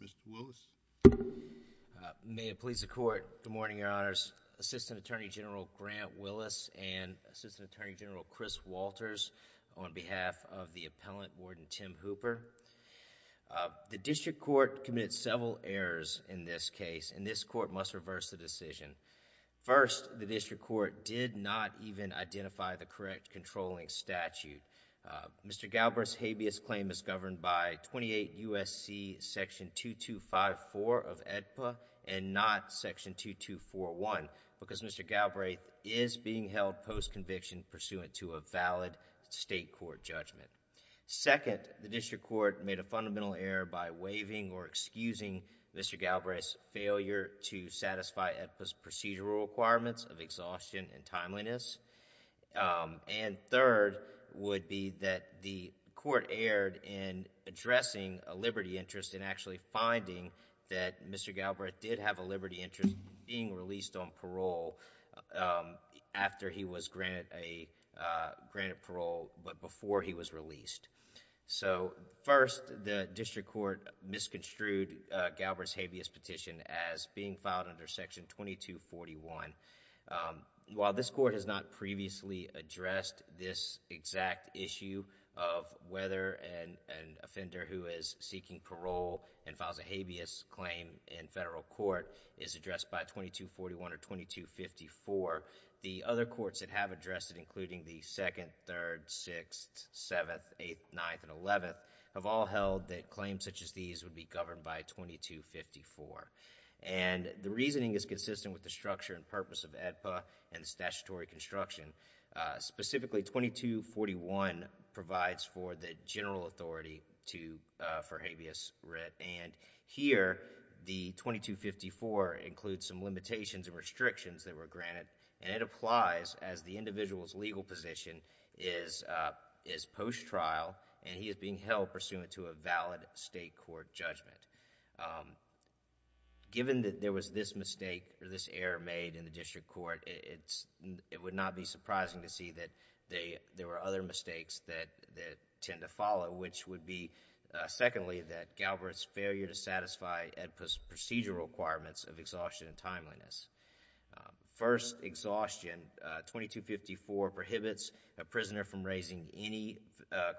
Mr. Willis. May it please the court, good morning your honors. Assistant Attorney General Grant Willis and Assistant Attorney General Chris Walters on behalf of the Appellant Warden Tim Hooper. The district court committed several errors in this case and this court must reverse the decision. First, the district court did not even identify the correct controlling statute. Mr. Galbraith's habeas claim is governed by 28 U.S.C. section 2254 of AEDPA and not section 2241 because Mr. Galbraith is being held post-conviction pursuant to a valid state court judgment. Second, the district court made a fundamental error by waiving or excusing Mr. Galbraith's failure to satisfy procedural requirements of exhaustion and timeliness. And third would be that the court erred in addressing a liberty interest in actually finding that Mr. Galbraith did have a liberty interest being released on parole after he was granted parole but before he was released. So first, the district court misconstrued Galbraith's habeas petition as being filed under section 2241. While this court has not previously addressed this exact issue of whether an offender who is seeking parole and files a habeas claim in federal court is addressed by 2241 or 2254, the other courts that have addressed it including the 2nd, 3rd, 6th, 7th, 8th, 9th, and 11th have all held that it should be governed by 2254. And the reasoning is consistent with the structure and purpose of AEDPA and statutory construction. Specifically, 2241 provides for the general authority for habeas writ and here the 2254 includes some limitations and restrictions that were granted and it applies as the individual's legal position is post-trial and he is being held pursuant to a valid state court judgment. Given that there was this mistake or this error made in the district court, it would not be surprising to see that there were other mistakes that tend to follow which would be, secondly, that Galbraith's failure to satisfy AEDPA's procedural requirements of exhaustion and timeliness. First exhaustion, 2254 prohibits a prisoner from raising any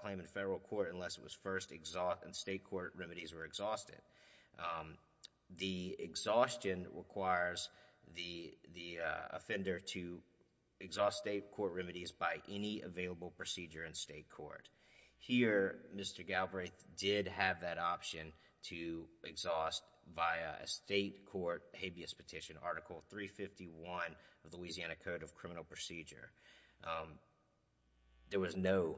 claim in federal court unless it was first exhausted and state court remedies were exhausted. The exhaustion requires the offender to exhaust state court remedies by any available procedure in state court. Here, Mr. Galbraith did have that option to exhaust via a state court habeas petition, Article 351 of the Louisiana Code of Criminal Procedure. There was no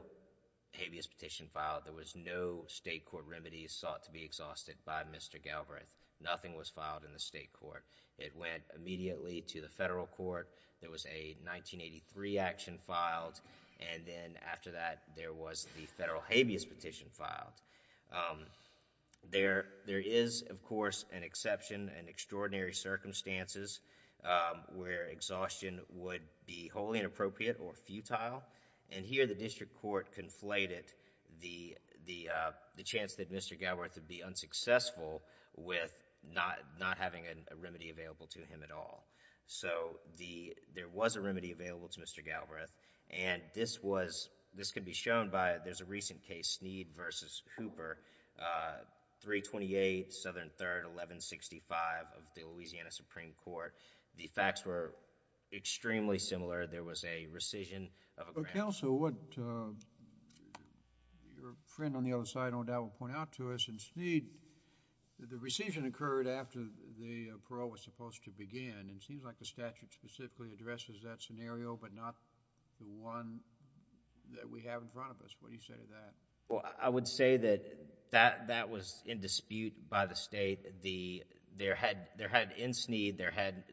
habeas petition filed. There was no state court remedies sought to be exhausted by Mr. Galbraith. Nothing was filed in the state court. It went immediately to the federal court. There was a 1983 action filed and then after that there was the federal habeas petition filed. There is, of course, an exception and extraordinary circumstances where exhaustion would be wholly inappropriate or futile. Here, the district court conflated the chance that Mr. Galbraith would be unsuccessful with not having a remedy available to him at all. There was a remedy available to Mr. Galbraith. This could be shown by... there's a recent case, Snead v. Hooper, 328 Southern 3rd, 1165 of the Louisiana Supreme Court. The facts were extremely similar. There was a rescission of a grant... Counsel, what your friend on the other side, no doubt, will point out to us, in Snead, the rescission occurred after the parole was supposed to begin. It seems like the statute specifically addresses that scenario but not the one that we have in front of us. What Well, I would say that that was in dispute by the state. There had, in Snead,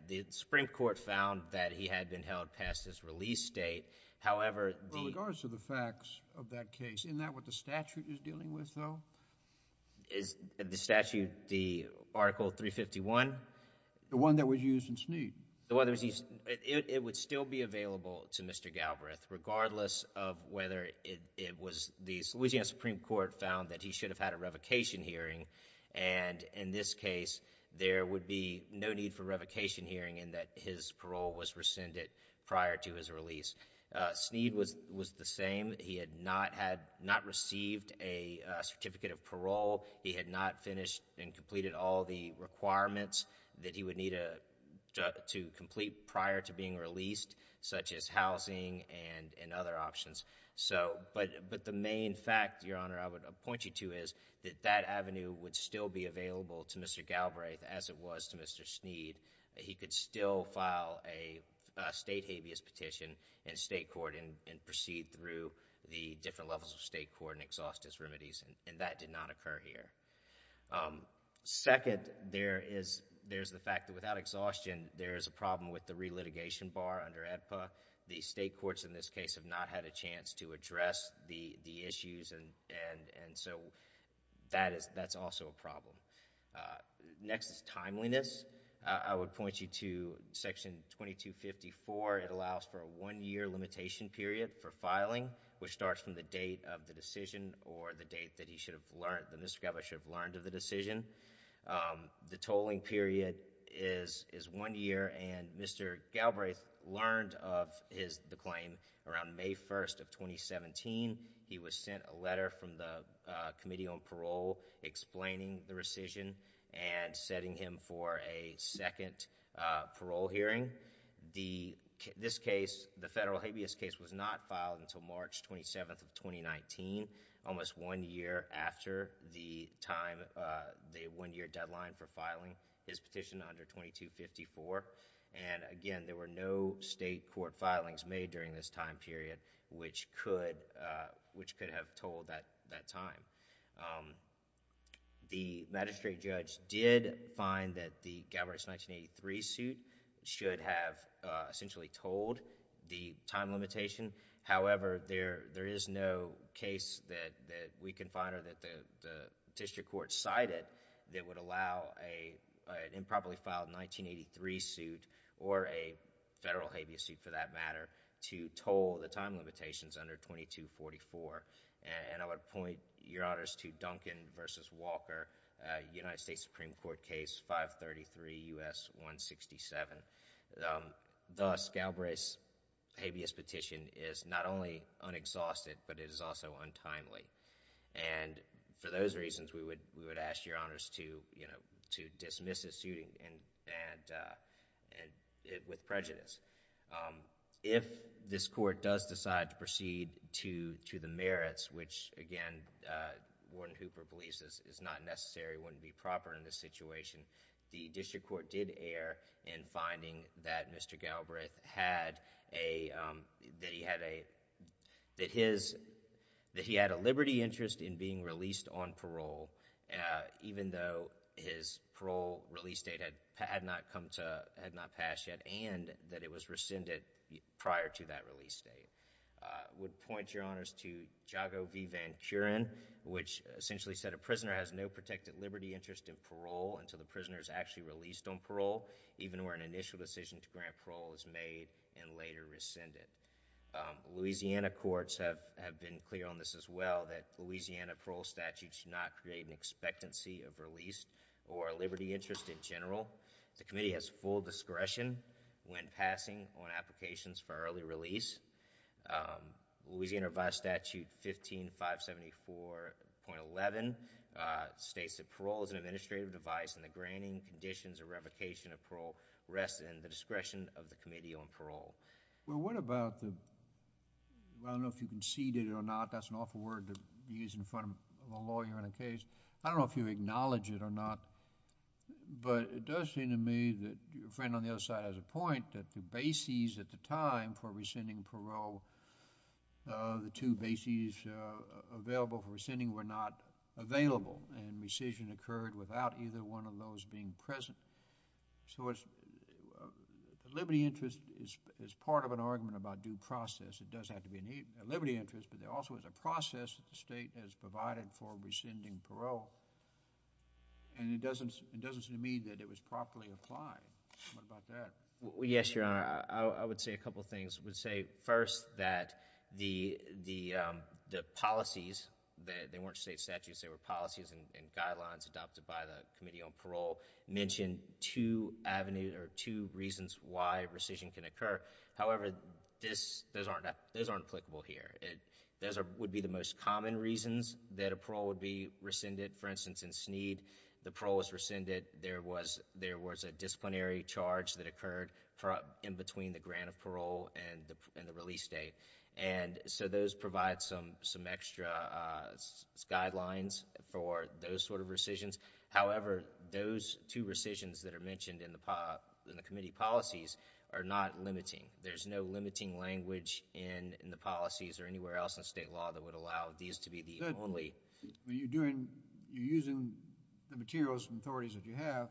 the Supreme Court found that he had been held past his release date. However... In regards to the facts of that case, isn't that what the statute is dealing with, though? Is the statute, the Article 351? The one that was used in Snead. The one that was used... it would still be available to Mr. Galbraith, regardless of whether it was... the Louisiana Supreme Court found that he should have had a revocation hearing and, in this case, there would be no need for a revocation hearing in that his parole was rescinded prior to his release. Snead was the same. He had not had, not received a certificate of parole. He had not finished and completed all the requirements that he would need to complete prior to being released, such as housing and other options. But the main fact, Your Honor, I would point you to is that that avenue would still be available to Mr. Galbraith as it was to Mr. Snead. He could still file a state habeas petition in state court and proceed through the different levels of state court and exhaust his remedies, and that did not occur here. Second, there is the fact that without exhaustion, there is a problem with the re-litigation bar under AEDPA. The state courts, in this case, have not had a chance to address the issues, and so that's also a problem. Next is timeliness. I would point you to Section 2254. It allows for a one-year limitation period for filing, which starts from the date of the decision or the date that Mr. Galbraith should have learned of the decision. The tolling period is one year, and Mr. Galbraith learned of the claim around May 1st of 2017. He was sent a letter from the Committee on Parole explaining the rescission and setting him for a second parole hearing. This case, the case was not filed until March 27th of 2019, almost one year after the time, the one-year deadline for filing his petition under 2254. Again, there were no state court filings made during this time period which could have tolled that time. The magistrate judge did find that the Galbraith 1983 suit should have essentially tolled the time limitation. However, there is no case that we can find or that the district court cited that would allow an improperly filed 1983 suit or a federal habeas suit, for that matter, to toll the time limitations under 2244. I would point your honors to Duncan v. Walker, United States Supreme Court case 533 U.S. 167, the Galbraith habeas suit. This petition is not only unexhausted, but it is also untimely. For those reasons, we would ask your honors to dismiss this suit with prejudice. If this court does decide to proceed to the merits, which again, Warden Hooper believes is not necessary, wouldn't be proper in this situation, the district court did err in finding that Mr. Galbraith had a, that he had a, that his, that he had a liberty interest in being released on parole, even though his parole release date had not come to, had not passed yet and that it was rescinded prior to that release date. I would point your honors to Jago v. Van Curen, which essentially said a prisoner has no protected liberty interest in parole until the prisoner is actually released on parole, even where an initial decision to grant parole is made and later rescinded. Louisiana courts have, have been clear on this as well, that Louisiana parole statute should not create an expectancy of release or a liberty interest in general. The committee has full discretion when passing on applications for early release. Louisiana revised statute 15574.11 states that parole is an administrative device in the granting, conditions, or revocation of parole rest in the discretion of the committee on parole. Well, what about the, I don't know if you conceded or not, that's an awful word to use in front of a lawyer in a case. I don't know if you acknowledge it or not, but it does seem to me that your friend on the other side has a point that the bases at the time for rescinding parole, the two bases available for rescinding were not available and rescission occurred without either one of those being present. So it's, the liberty interest is, is part of an argument about due process. It does have to be a liberty interest, but there also is a process that the state has provided for rescinding parole. And it doesn't, it doesn't seem to me that it was properly applied. What about that? Well, yes, Your Honor. I, I would say a couple of things. I would say first that the, the, the policies, they, they weren't state statutes, they were policies and, and guidelines adopted by the Committee on Parole mentioned two avenues, or two reasons why rescission can occur. However, this, those aren't, those aren't applicable here. It, those are, would be the most common reasons that a parole would be rescinded. For instance, in Sneed, the parole was rescinded. There was, there was a disciplinary charge that occurred for, in between the grant of two years, to provide some, some extra guidelines for those sort of rescissions. However, those two rescissions that are mentioned in the p.....in the committee policies are not limiting. There's no limiting language in, in the policies or anywhere else in state law that would allow these to be the only. But, but you're doing, you're using the materials and authorities that you have,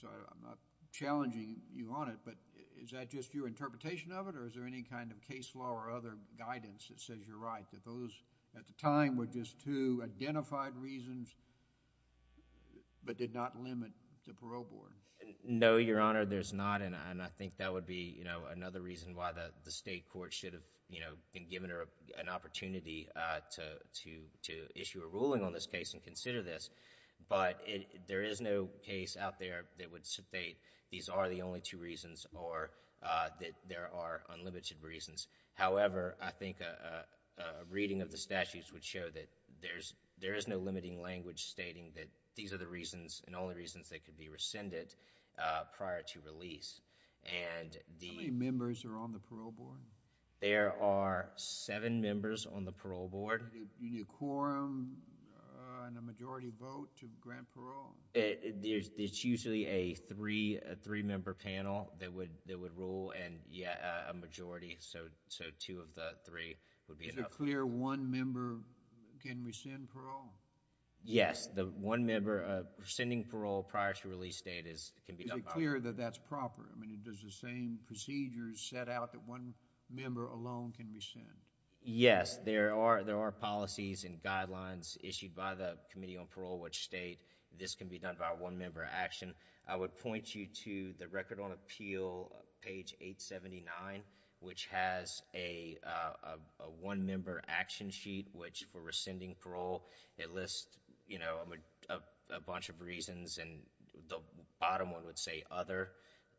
so I'm not challenging you on it, but is that just your interpretation of it, or is there any kind of case law or other guidance that says you're right, that those at the time were just two identified reasons, but did not limit the parole board? No, Your Honor, there's not, and I think that would be, you know, another reason why the, the state court should have, you know, been given an opportunity to, to, to issue a ruling on this case and consider this, but it, there is no case out there that would state these are the only two reasons or that there are unlimited reasons. However, I think a, a, a reading of the statutes would show that there's, there is no limiting language stating that these are the reasons and only reasons they could be rescinded prior to release, and the... How many members are on the parole board? There are seven members on the parole board. Do you need a quorum and a majority vote to grant parole? It, there's, it's usually a three, a three-member panel that would, that would rule and, yeah, a majority, so, so two of the three would be enough. Is it clear one member can rescind parole? Yes, the one member, uh, rescinding parole prior to release date is, can be done by... Is it clear that that's proper? I mean, it does the same procedures set out that one member alone can rescind? Yes, there are, there are policies and guidelines issued by the Committee on Parole which state this can be done by a one-member action. I would point you to the Record on Appeal, page 879, which has a, a, a one-member action sheet which, for rescinding parole, it lists, you know, a, a bunch of reasons and the bottom one would say other,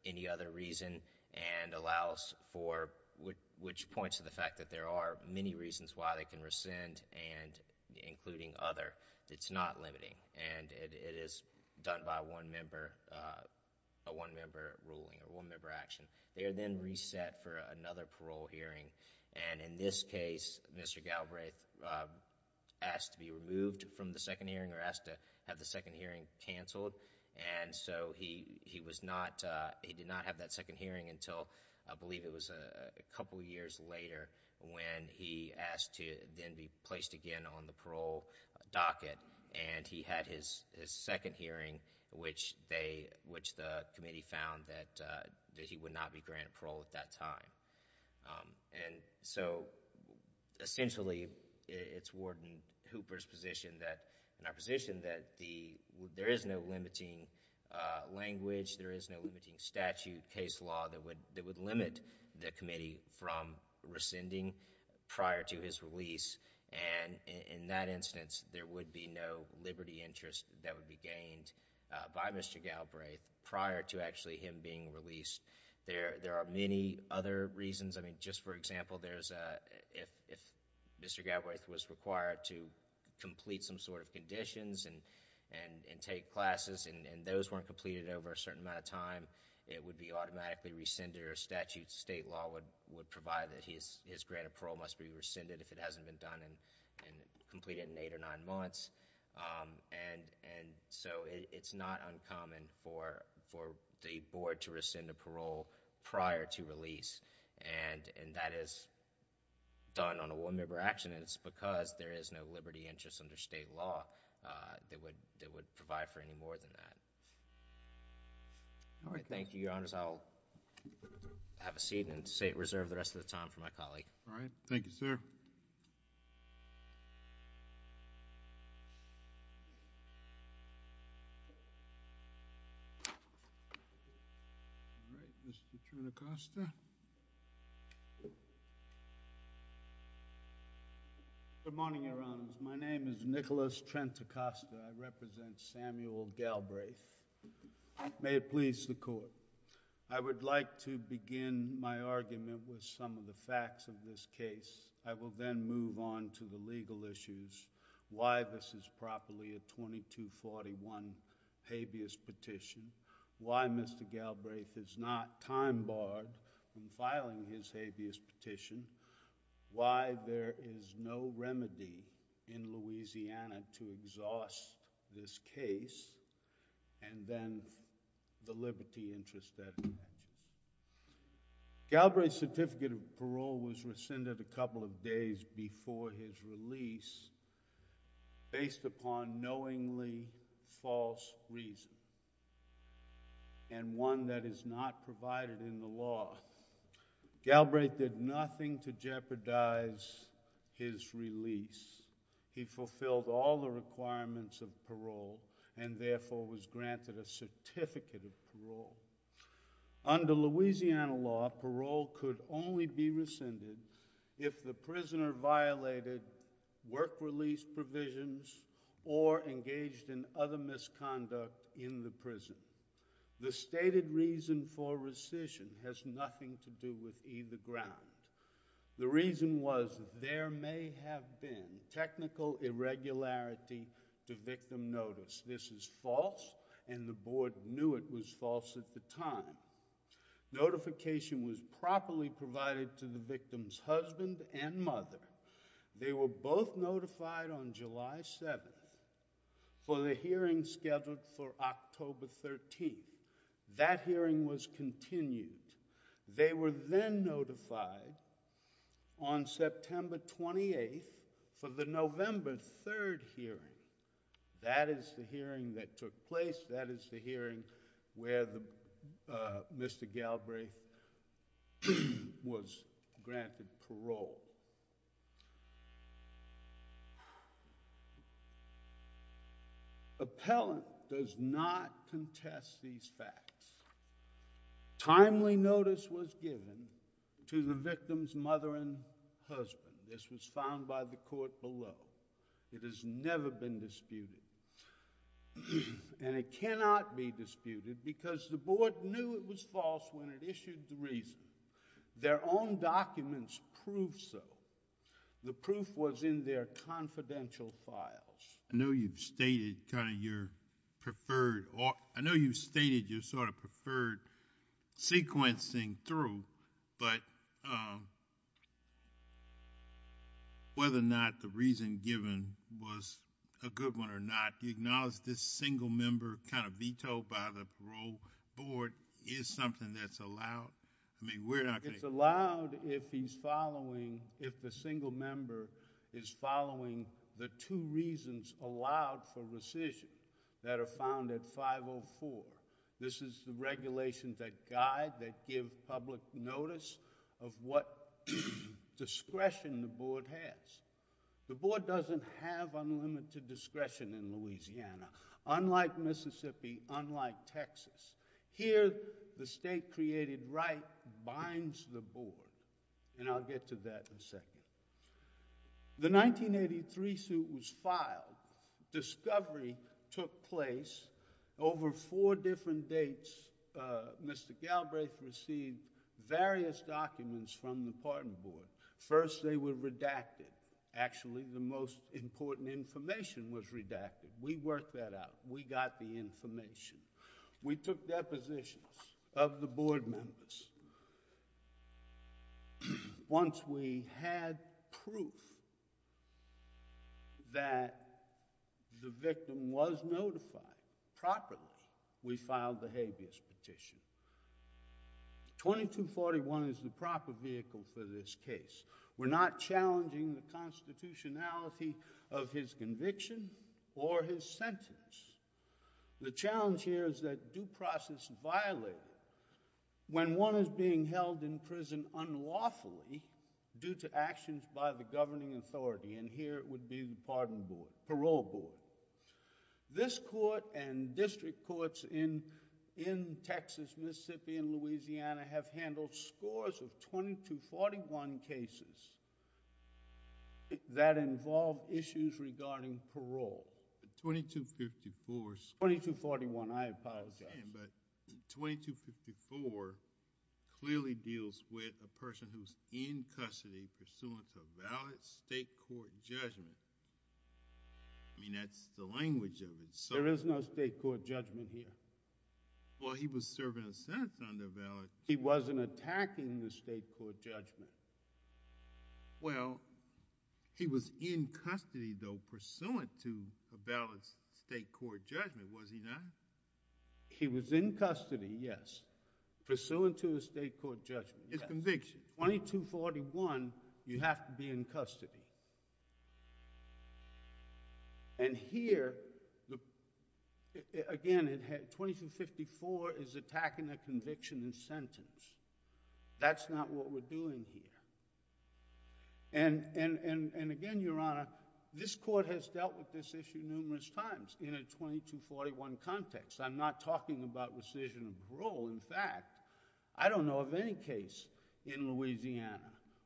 any other reason, and allows for, which, which points to the fact that there are many reasons why they can rescind and including other. It's not limiting and it, it is done by one member, uh, a one-member ruling or one-member action. They are then reset for another parole hearing and in this case, Mr. Galbraith, uh, asked to be removed from the second hearing or asked to have the second hearing canceled and so he, he was not, uh, he did not have that second hearing until, I believe it was a, a couple of years later when he asked to then be placed again on the parole docket and he had his, his second hearing which they, which the Committee found that, uh, that he would not be granted parole at that time, um, and so essentially, it, it's Warden Hooper's position that, in our position that the, there is no limiting, uh, language, there is no limiting statute, case law that would, that would limit the Committee from rescinding prior to his release and in, in that instance, there would be no liberty interest that would be gained, uh, by Mr. Galbraith prior to actually him being released. There, there are many other reasons, I mean, just for example, there's a, if, if Mr. Galbraith was required to complete some sort of conditions and, and, and take classes and, and those weren't completed over a certain amount of time, it would be automatically rescinded or statute, state law would, would provide that his, his grant of parole must be rescinded if it hasn't been done and, and completed in eight or nine months, um, and, and so it, it's not uncommon for, for the Board to rescind the parole prior to release and, and that is done on a one-member action and it's because there is no liberty interest under state law, uh, that would, that would provide for any more than that. All right. Thank you, Your Honors. I'll have a seat and save, reserve the rest of the time for my colleague. All right. Thank you, sir. All right. Mr. Trinicosta. Good morning, Your Honors. My name is Nicholas Trinicosta, I represent Samuel Galbraith. May it please the Court. I would like to begin my argument with some of the facts of this case. I will then move on to the legal issues. Why this is properly a 2241 habeas petition? Why Mr. Galbraith is not time barred in filing his habeas petition? Why there is no remedy in Louisiana to exhaust this case? And then the liberty interest that it mentions. Galbraith's certificate of parole was rescinded a couple of days before his release based upon knowingly false reason and one that is not provided in the law. Galbraith did nothing to jeopardize his release. He fulfilled all the requirements of parole and therefore was granted a certificate of parole. Under Louisiana law, parole could only be rescinded if the prisoner violated work release provisions or engaged in other misconduct in the prison. The stated reason for rescission has nothing to do with either ground. The reason was there may have been technical irregularity to victim notice. This is false and the Board knew it was false at the time. Notification was properly provided to the victim's husband and mother. They were both notified on July 7th for the hearing scheduled for October 13th. That hearing was continued. They were then notified on September 28th for the November 3rd hearing. That is the hearing that took place. That is the hearing where Mr. Galbraith was granted parole. Appellant does not contest these facts. Timely notice was given to the victim's mother and husband. This was found by the court below. It has never been disputed. It cannot be disputed because the Board knew it was false when it issued the reason. Their own documents prove so. The proof was in their confidential files. I know you've stated your preferred sequencing through, but whether or not the reason given was a good one or not, do you acknowledge this single member kind of vetoed by the Parole Board is something that's allowed? I mean, we're not going to— It's allowed if he's following, if the single member is following the two reasons allowed for rescission that are found at 504. This is the regulations that guide, that give public notice of what discretion the Board has. The Board doesn't have unlimited discretion in Louisiana, unlike Mississippi, unlike Texas. Here the state-created right binds the Board, and I'll get to that in a second. The 1983 suit was filed. Discovery took place. Over four different dates, Mr. Galbraith received various documents from the Parole Board. First, they were redacted. Actually, the most important information was redacted. We worked that out. We got the information. We took depositions of the Board members. Once we had proof that the victim was notified properly, we filed the habeas petition. 2241 is the proper vehicle for this case. We're not challenging the constitutionality of his conviction or his sentence. The challenge here is that due process violated when one is being held in prison unlawfully due to actions by the governing authority, and here it would be the Parole Board. This court and district courts in Texas, Mississippi, and Louisiana have handled scores of 2241 cases that involved issues regarding parole. 2254... 2241. I apologize. 2254 clearly deals with a person who's in custody pursuant to a valid state court judgment. I mean, that's the language of it. There is no state court judgment here. Well, he was serving a sentence under a valid... He wasn't attacking the state court judgment. Well, he was in custody, though, pursuant to a valid state court judgment, was he not? He was in custody, yes, pursuant to a state court judgment. His conviction. In 2241, you have to be in custody. And here, again, 2254 is attacking a conviction and sentence. That's not what we're doing here. And again, Your Honor, this court has dealt with this issue numerous times in a 2241 context. I'm not talking about rescission of parole. In fact, I don't know of any case in Louisiana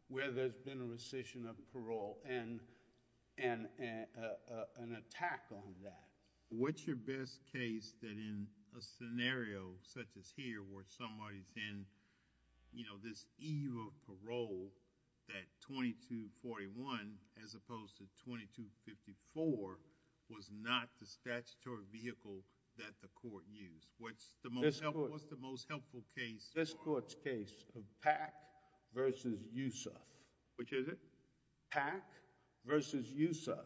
where there's been a rescission of parole and an attack on that. What's your best case that in a scenario such as here where somebody's in this eve of parole that 2241, as opposed to 2254, was not the statutory vehicle that the court used? What's the most helpful case? This court's case of Pack v. Youssef. Which is it? Pack v. Youssef,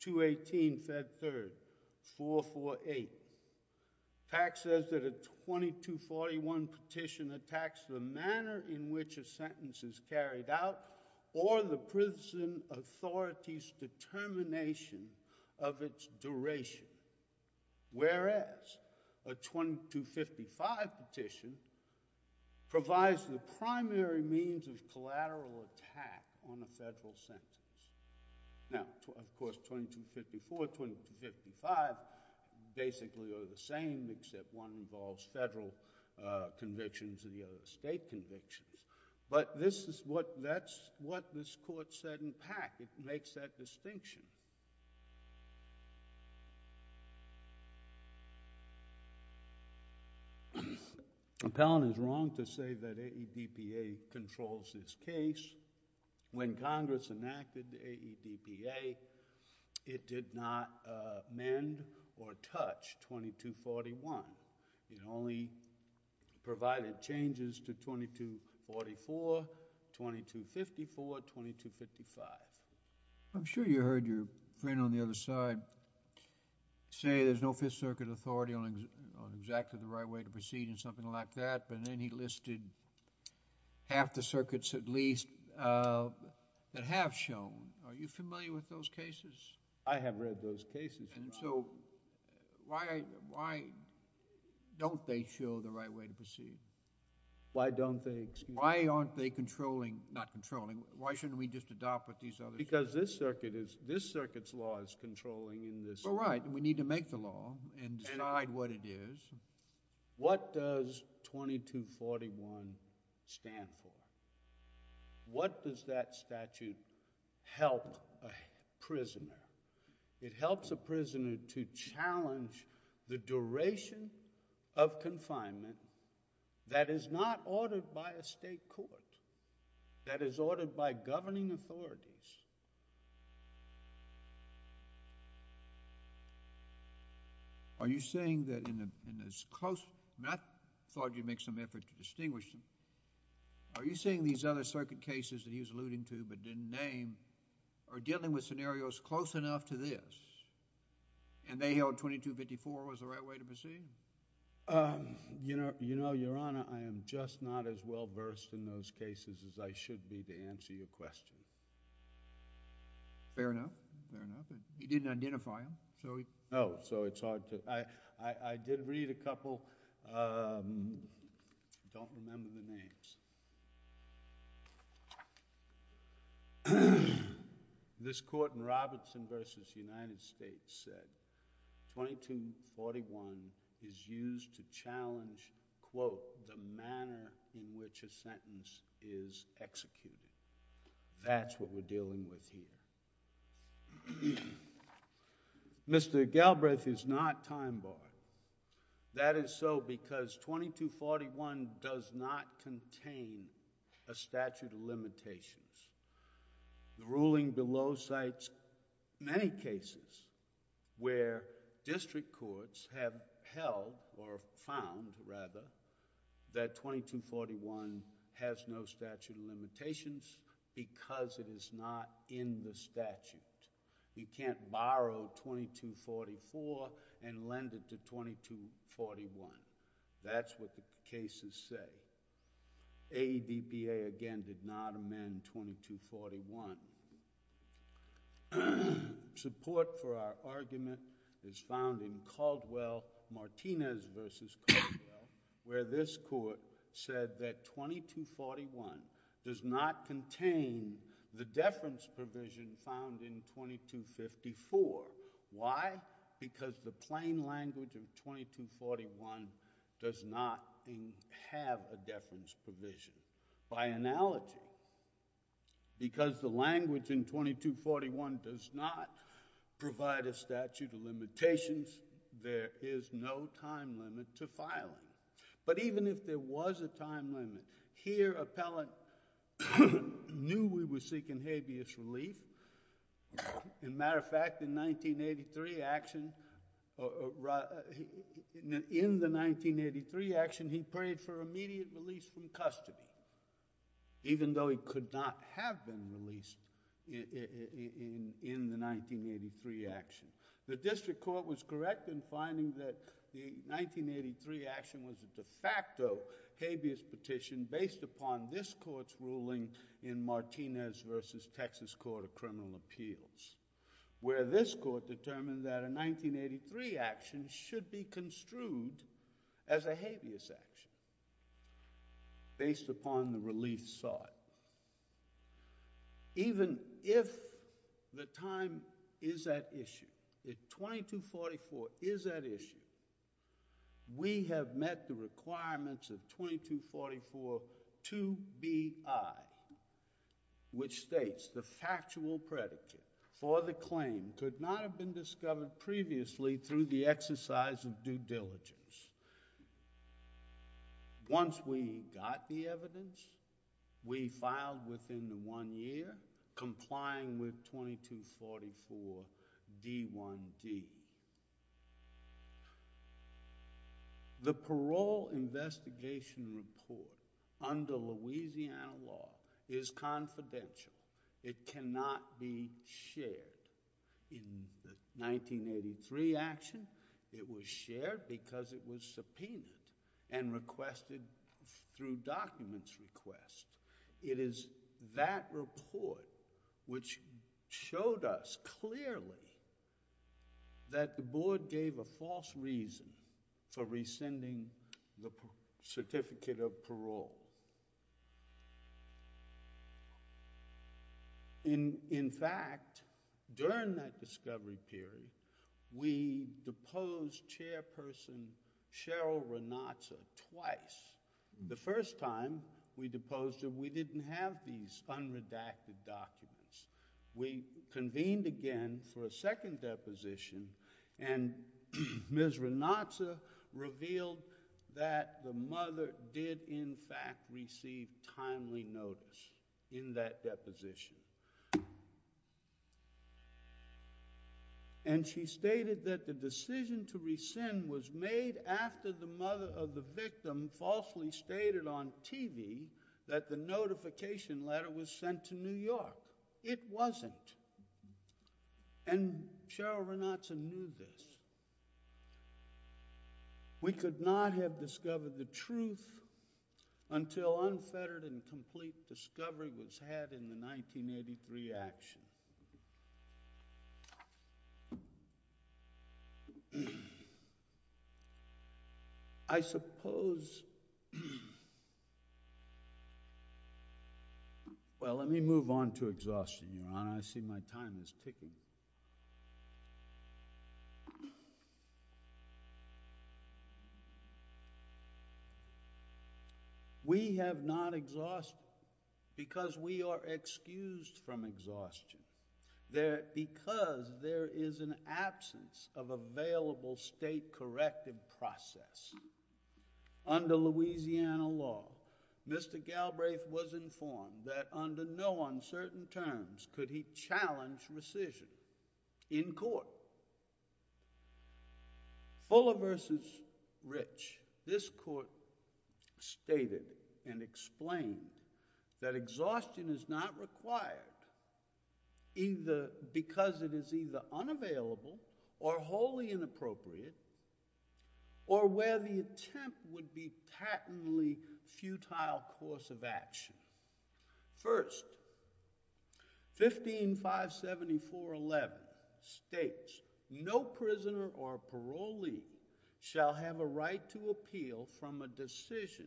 218 Fed 3rd, 448. Pack says that a 2241 petition attacks the manner in which a sentence is carried out or the prison authority's determination of its duration. Whereas, a 2255 petition provides the primary means of collateral attack on a federal sentence. Now, of course, 2254, 2255 basically are the same except one involves federal convictions and the other state convictions. But that's what this court said in Pack. It makes that distinction. Appellant is wrong to say that AEDPA controls this case. When Congress enacted AEDPA, it did not mend or touch 2241. It only provided changes to 2244, 2254, 2255. I'm sure you heard your friend on the other side say there's no Fifth Circuit authority on exactly the right way to proceed and something like that, but then he listed half the circuits at least that have shown. Are you familiar with those cases? I have read those cases. And so, why don't they show the right way to proceed? Why don't they, excuse me? Why aren't they controlling, not controlling, why shouldn't we just adopt what these others Because this circuit is, this circuit's law is controlling in this. Well, right. We need to make the law and decide what it is. What does 2241 stand for? What does that statute help a prisoner? It helps a prisoner to challenge the duration of confinement that is not ordered by a state court, that is ordered by governing authorities. Are you saying that in this close, I thought you'd make some effort to distinguish them. Are you saying these other circuit cases that he was alluding to but didn't name are dealing with scenarios close enough to this and they held 2254 was the right way to proceed? You know, Your Honor, I am just not as well versed in those cases as I should be to answer your question. Fair enough. Fair enough. He didn't identify them, so he... No. So, it's hard to, I did read a couple, don't remember the names. This court in Robertson v. United States said 2241 is used to challenge, quote, the manner in which a sentence is executed. That's what we're dealing with here. Mr. Galbraith is not time-barred. That is so because 2241 does not contain a statute of limitations. The ruling below cites many cases where district courts have held or found, rather, that 2241 has no statute of limitations because it is not in the statute. You can't borrow 2244 and lend it to 2241. That's what the cases say. AEDPA, again, did not amend 2241. Support for our argument is found in Caldwell-Martinez v. Caldwell, where this court said that 2241 does not contain the deference provision found in 2254. Why? Because the plain language of 2241 does not have a deference provision. By analogy, because the language in 2241 does not provide a statute of limitations, there is no time limit to filing it. But even if there was a time limit, here Appellant knew we were seeking habeas relief. In matter of fact, in the 1983 action, he prayed for immediate release from custody, even though he could not have been released in the 1983 action. The district court was correct in finding that the 1983 action was a de facto habeas petition based upon this court's ruling in Martinez v. Texas Court of Criminal Appeals, where this court determined that a 1983 action should be construed as a habeas action based upon the relief sought. Even if the time is at issue, if 2244 is at issue, we have met the requirements of 2244 to be I, which states the factual predicate for the claim could not have been discovered previously through the exercise of due diligence. Once we got the evidence, we filed within the one year, complying with 2244 D1D. The parole investigation report under Louisiana law is confidential. It cannot be shared. In the 1983 action, it was shared because it was subpoenaed and requested through documents request. It is that report which showed us clearly that the board gave a false reason for rescinding the certificate of parole. In fact, during that discovery period, we deposed Chairperson Cheryl Renatza twice. The first time we deposed her, we didn't have these unredacted documents. We convened again for a second deposition, and Ms. Renatza revealed that the mother did, in fact, receive timely notice in that deposition. And she stated that the decision to rescind was made after the mother of the victim falsely stated on TV that the notification letter was sent to New York. It wasn't. And Cheryl Renatza knew this. We could not have discovered the truth until unfettered and complete discovery was had in the 1983 action. Now, I suppose, well, let me move on to exhaustion, Your Honor, I see my time is ticking. We have not exhausted, because we are excused from exhaustion, because there is an absence of available state corrective process. Under Louisiana law, Mr. Galbraith was informed that under no uncertain terms could he challenge rescission in court. Fuller v. Rich, this court stated and explained that exhaustion is not required because it is either unavailable or wholly inappropriate or where the attempt would be patently futile course of action. First, 15.574.11 states, no prisoner or parolee shall have a right to appeal from a decision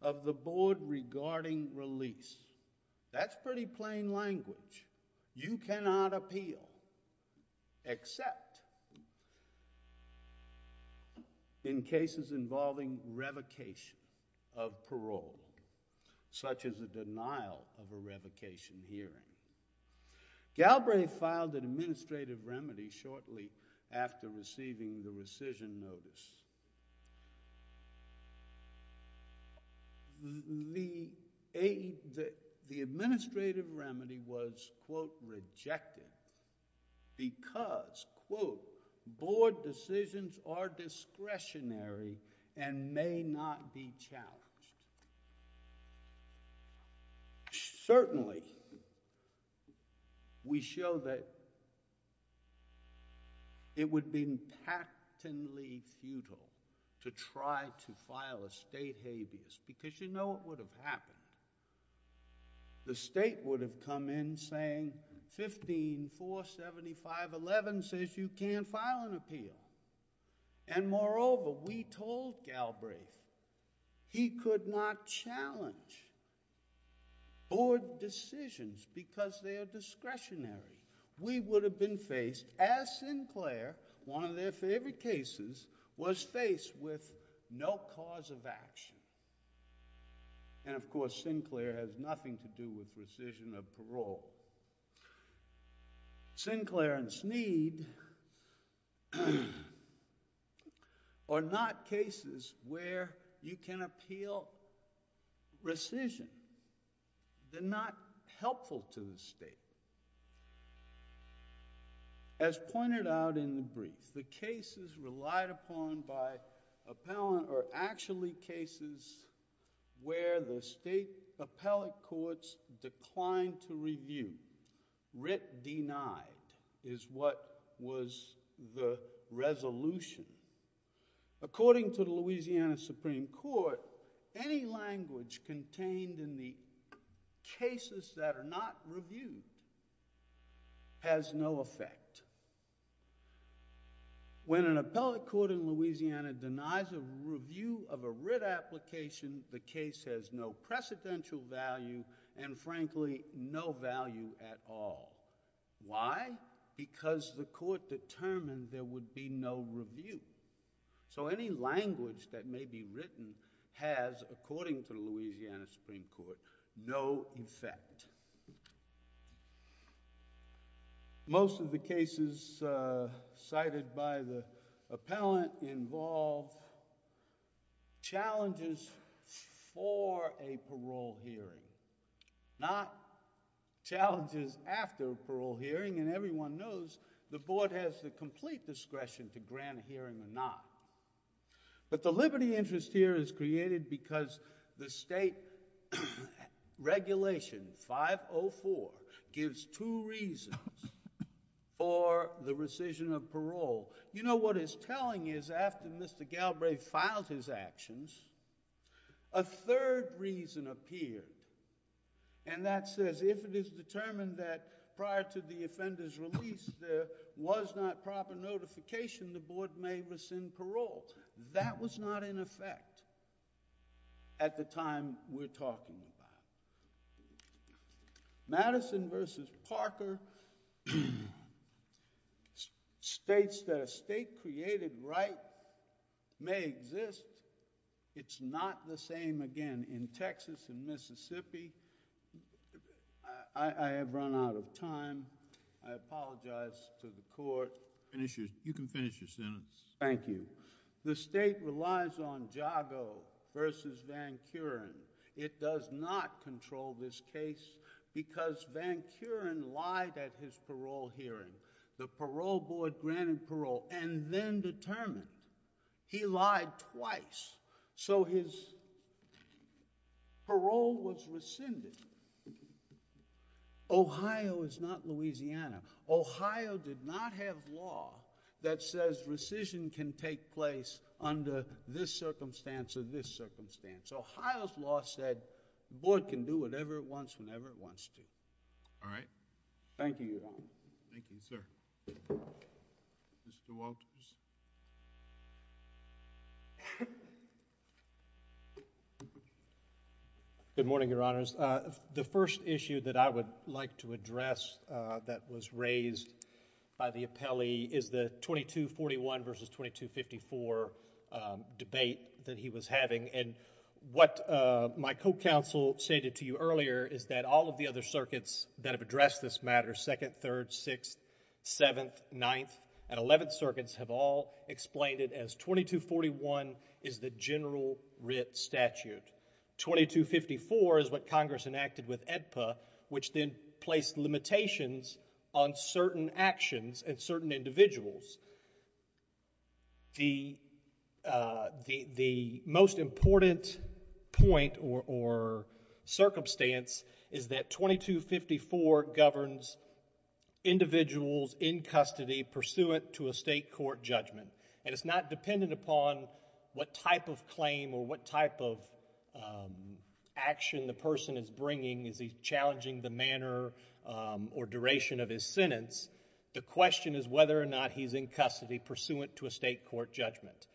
of the board regarding release. That's pretty plain language. You cannot appeal except in cases involving revocation of parole, such as a denial of a revocation hearing. Galbraith filed an administrative remedy shortly after receiving the rescission notice. The administrative remedy was, quote, rejected because, quote, board decisions are discretionary and may not be challenged. Certainly, we show that it would be patently futile to try to file a state habeas because you know what would have happened. The state would have come in saying 15.475.11 says you can't file an appeal. Moreover, we told Galbraith he could not challenge board decisions because they are discretionary. We would have been faced, as Sinclair, one of their favorite cases, was faced with no cause of action. Of course, Sinclair has nothing to do with rescission of parole. Sinclair and Sneed are not cases where you can appeal rescission. They're not helpful to the state. As pointed out in the brief, the cases relied upon by appellant are actually cases where the state appellate courts declined to review. Writ denied is what was the resolution. According to the Louisiana Supreme Court, any language contained in the cases that are not reviewed has no effect. When an appellate court in Louisiana denies a review of a writ application, the case has no precedential value and frankly, no value at all. Why? Because the court determined there would be no review. Any language that may be written has, according to the Louisiana Supreme Court, no effect. Most of the cases cited by the appellant involve challenges for a parole hearing, not challenges after a parole hearing and everyone knows the board has the complete discretion to grant a hearing or not. But the liberty interest here is created because the state regulation 504 gives two reasons for the rescission of parole. You know what it's telling is after Mr. Galbraith filed his actions, a third reason appeared and that says if it is determined that prior to the offender's release there was not proper notification, the board may rescind parole. That was not in effect at the time we're talking about. Madison versus Parker states that a state created right may exist. It's not the same again in Texas and Mississippi. I have run out of time. I apologize to the court. You can finish your sentence. Thank you. The state relies on Jago versus Van Curen. It does not control this case because Van Curen lied at his parole hearing. The parole board granted parole and then determined he lied twice. So his parole was rescinded. Ohio is not Louisiana. Ohio did not have law that says rescission can take place under this circumstance or this circumstance. Ohio's law said the board can do whatever it wants whenever it wants to. All right. Thank you, Your Honor. Thank you, sir. Mr. Walters. Good morning, Your Honors. The first issue that I would like to address that was raised by the appellee is the 2241 versus 2254 debate that he was having. What my co-counsel stated to you earlier is that all of the other circuits that have addressed this matter, 2nd, 3rd, 6th, 7th, 9th, and 11th circuits have all explained it as 2241 is the general writ statute. 2254 is what Congress enacted with AEDPA, which then placed limitations on certain actions and certain individuals. The most important point or circumstance is that 2254 governs individuals in custody pursuant to a state court judgment. It's not dependent upon what type of claim or what type of action the person is bringing. Is he challenging the manner or duration of his sentence? The question is whether or not he's in custody pursuant to a state court judgment.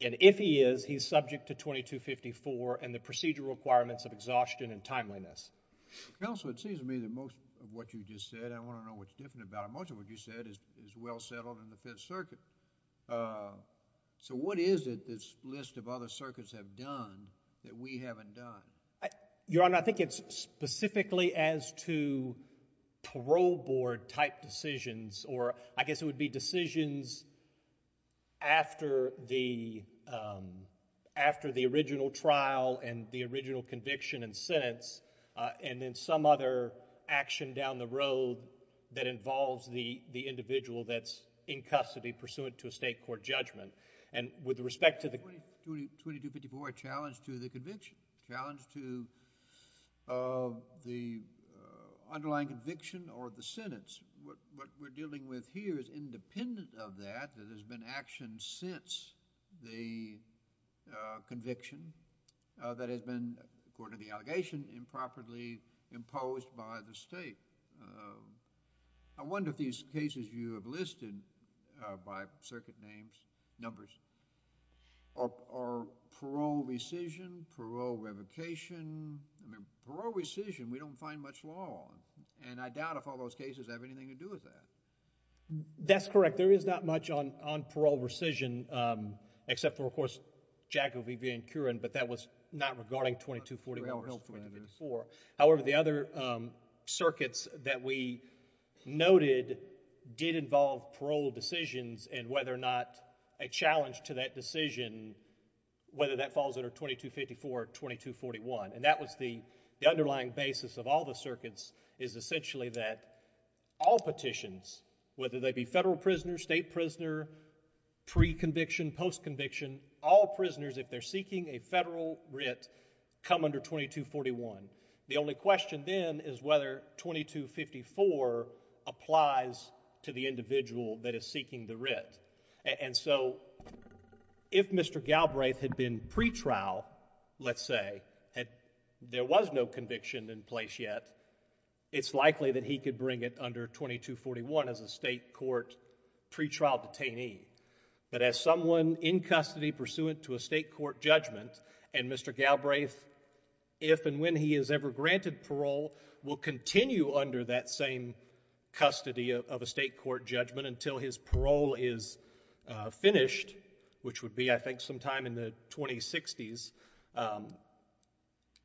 If he is, he's subject to 2254 and the procedural requirements of exhaustion and timeliness. Counsel, it seems to me that most of what you just said, I want to know what's different about it. Most of what you said is well settled in the Fifth Circuit. What is it this list of other circuits have done that we haven't done? Your Honor, I think it's specifically as to parole board type decisions or I guess it would be decisions after the original trial and the original conviction and sentence and then some other action down the road that involves the individual that's in custody pursuant to a state court judgment. With respect to the... 2254 challenged to the conviction, challenged to the underlying conviction or the sentence. What we're dealing with here is independent of that, that has been action since the conviction that has been, according to the allegation, improperly imposed by the state. I wonder if these cases you have listed by circuit names, numbers, are parole rescission, parole revocation. I mean, parole rescission, we don't find much law on and I doubt if all those cases have anything to do with that. That's correct. There is not much on parole rescission except for, of course, Jaco, Vivian, and Curran, but that was not regarding 2244. However, the other circuits that we noted did involve parole decisions and whether or not a challenge to that decision, whether that falls under 2254 or 2241. That was the underlying basis of all the circuits is essentially that all petitions, whether they be federal prisoner, state prisoner, pre-conviction, post-conviction, all prisoners, if they're seeking a federal writ, come under 2241. The only question then is whether 2254 applies to the individual that is seeking the writ. And so, if Mr. Galbraith had been pretrial, let's say, and there was no conviction in state court pretrial detainee, but as someone in custody pursuant to a state court judgment, and Mr. Galbraith, if and when he is ever granted parole, will continue under that same custody of a state court judgment until his parole is finished, which would be, I think, sometime in the 2060s. And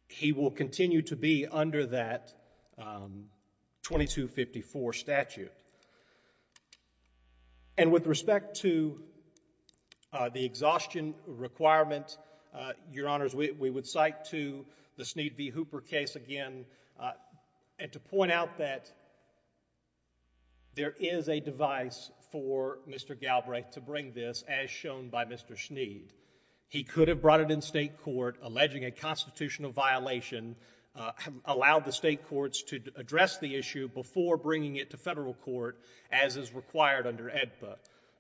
he will continue to be under that 2254 statute. And with respect to the exhaustion requirement, Your Honors, we would cite to the Sneed v. Hooper case again, and to point out that there is a device for Mr. Galbraith to bring this as shown by Mr. Sneed. He could have brought it in state court, alleging a constitutional violation, allowed the state courts to address the issue before bringing it to federal court as is required under AEDPA.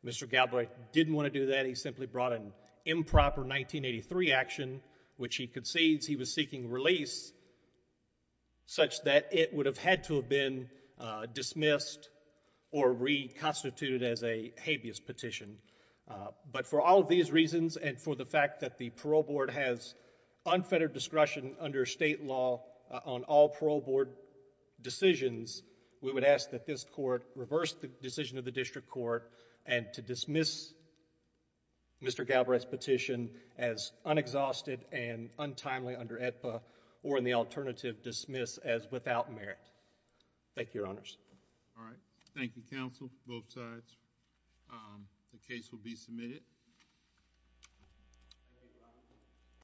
Mr. Galbraith didn't want to do that. He simply brought an improper 1983 action, which he concedes he was seeking release, such that it would have had to have been dismissed or reconstituted as a habeas petition. But for all of these reasons, and for the fact that the parole board has unfettered discretion under state law on all parole board decisions, we would ask that this court reverse the decision of the district court and to dismiss Mr. Galbraith's petition as unexhausted and untimely under AEDPA, or in the alternative, dismiss as without merit. Thank you, Your Honors. All right. Thank you, counsel, both sides. The case will be submitted. Thank you. Thank you.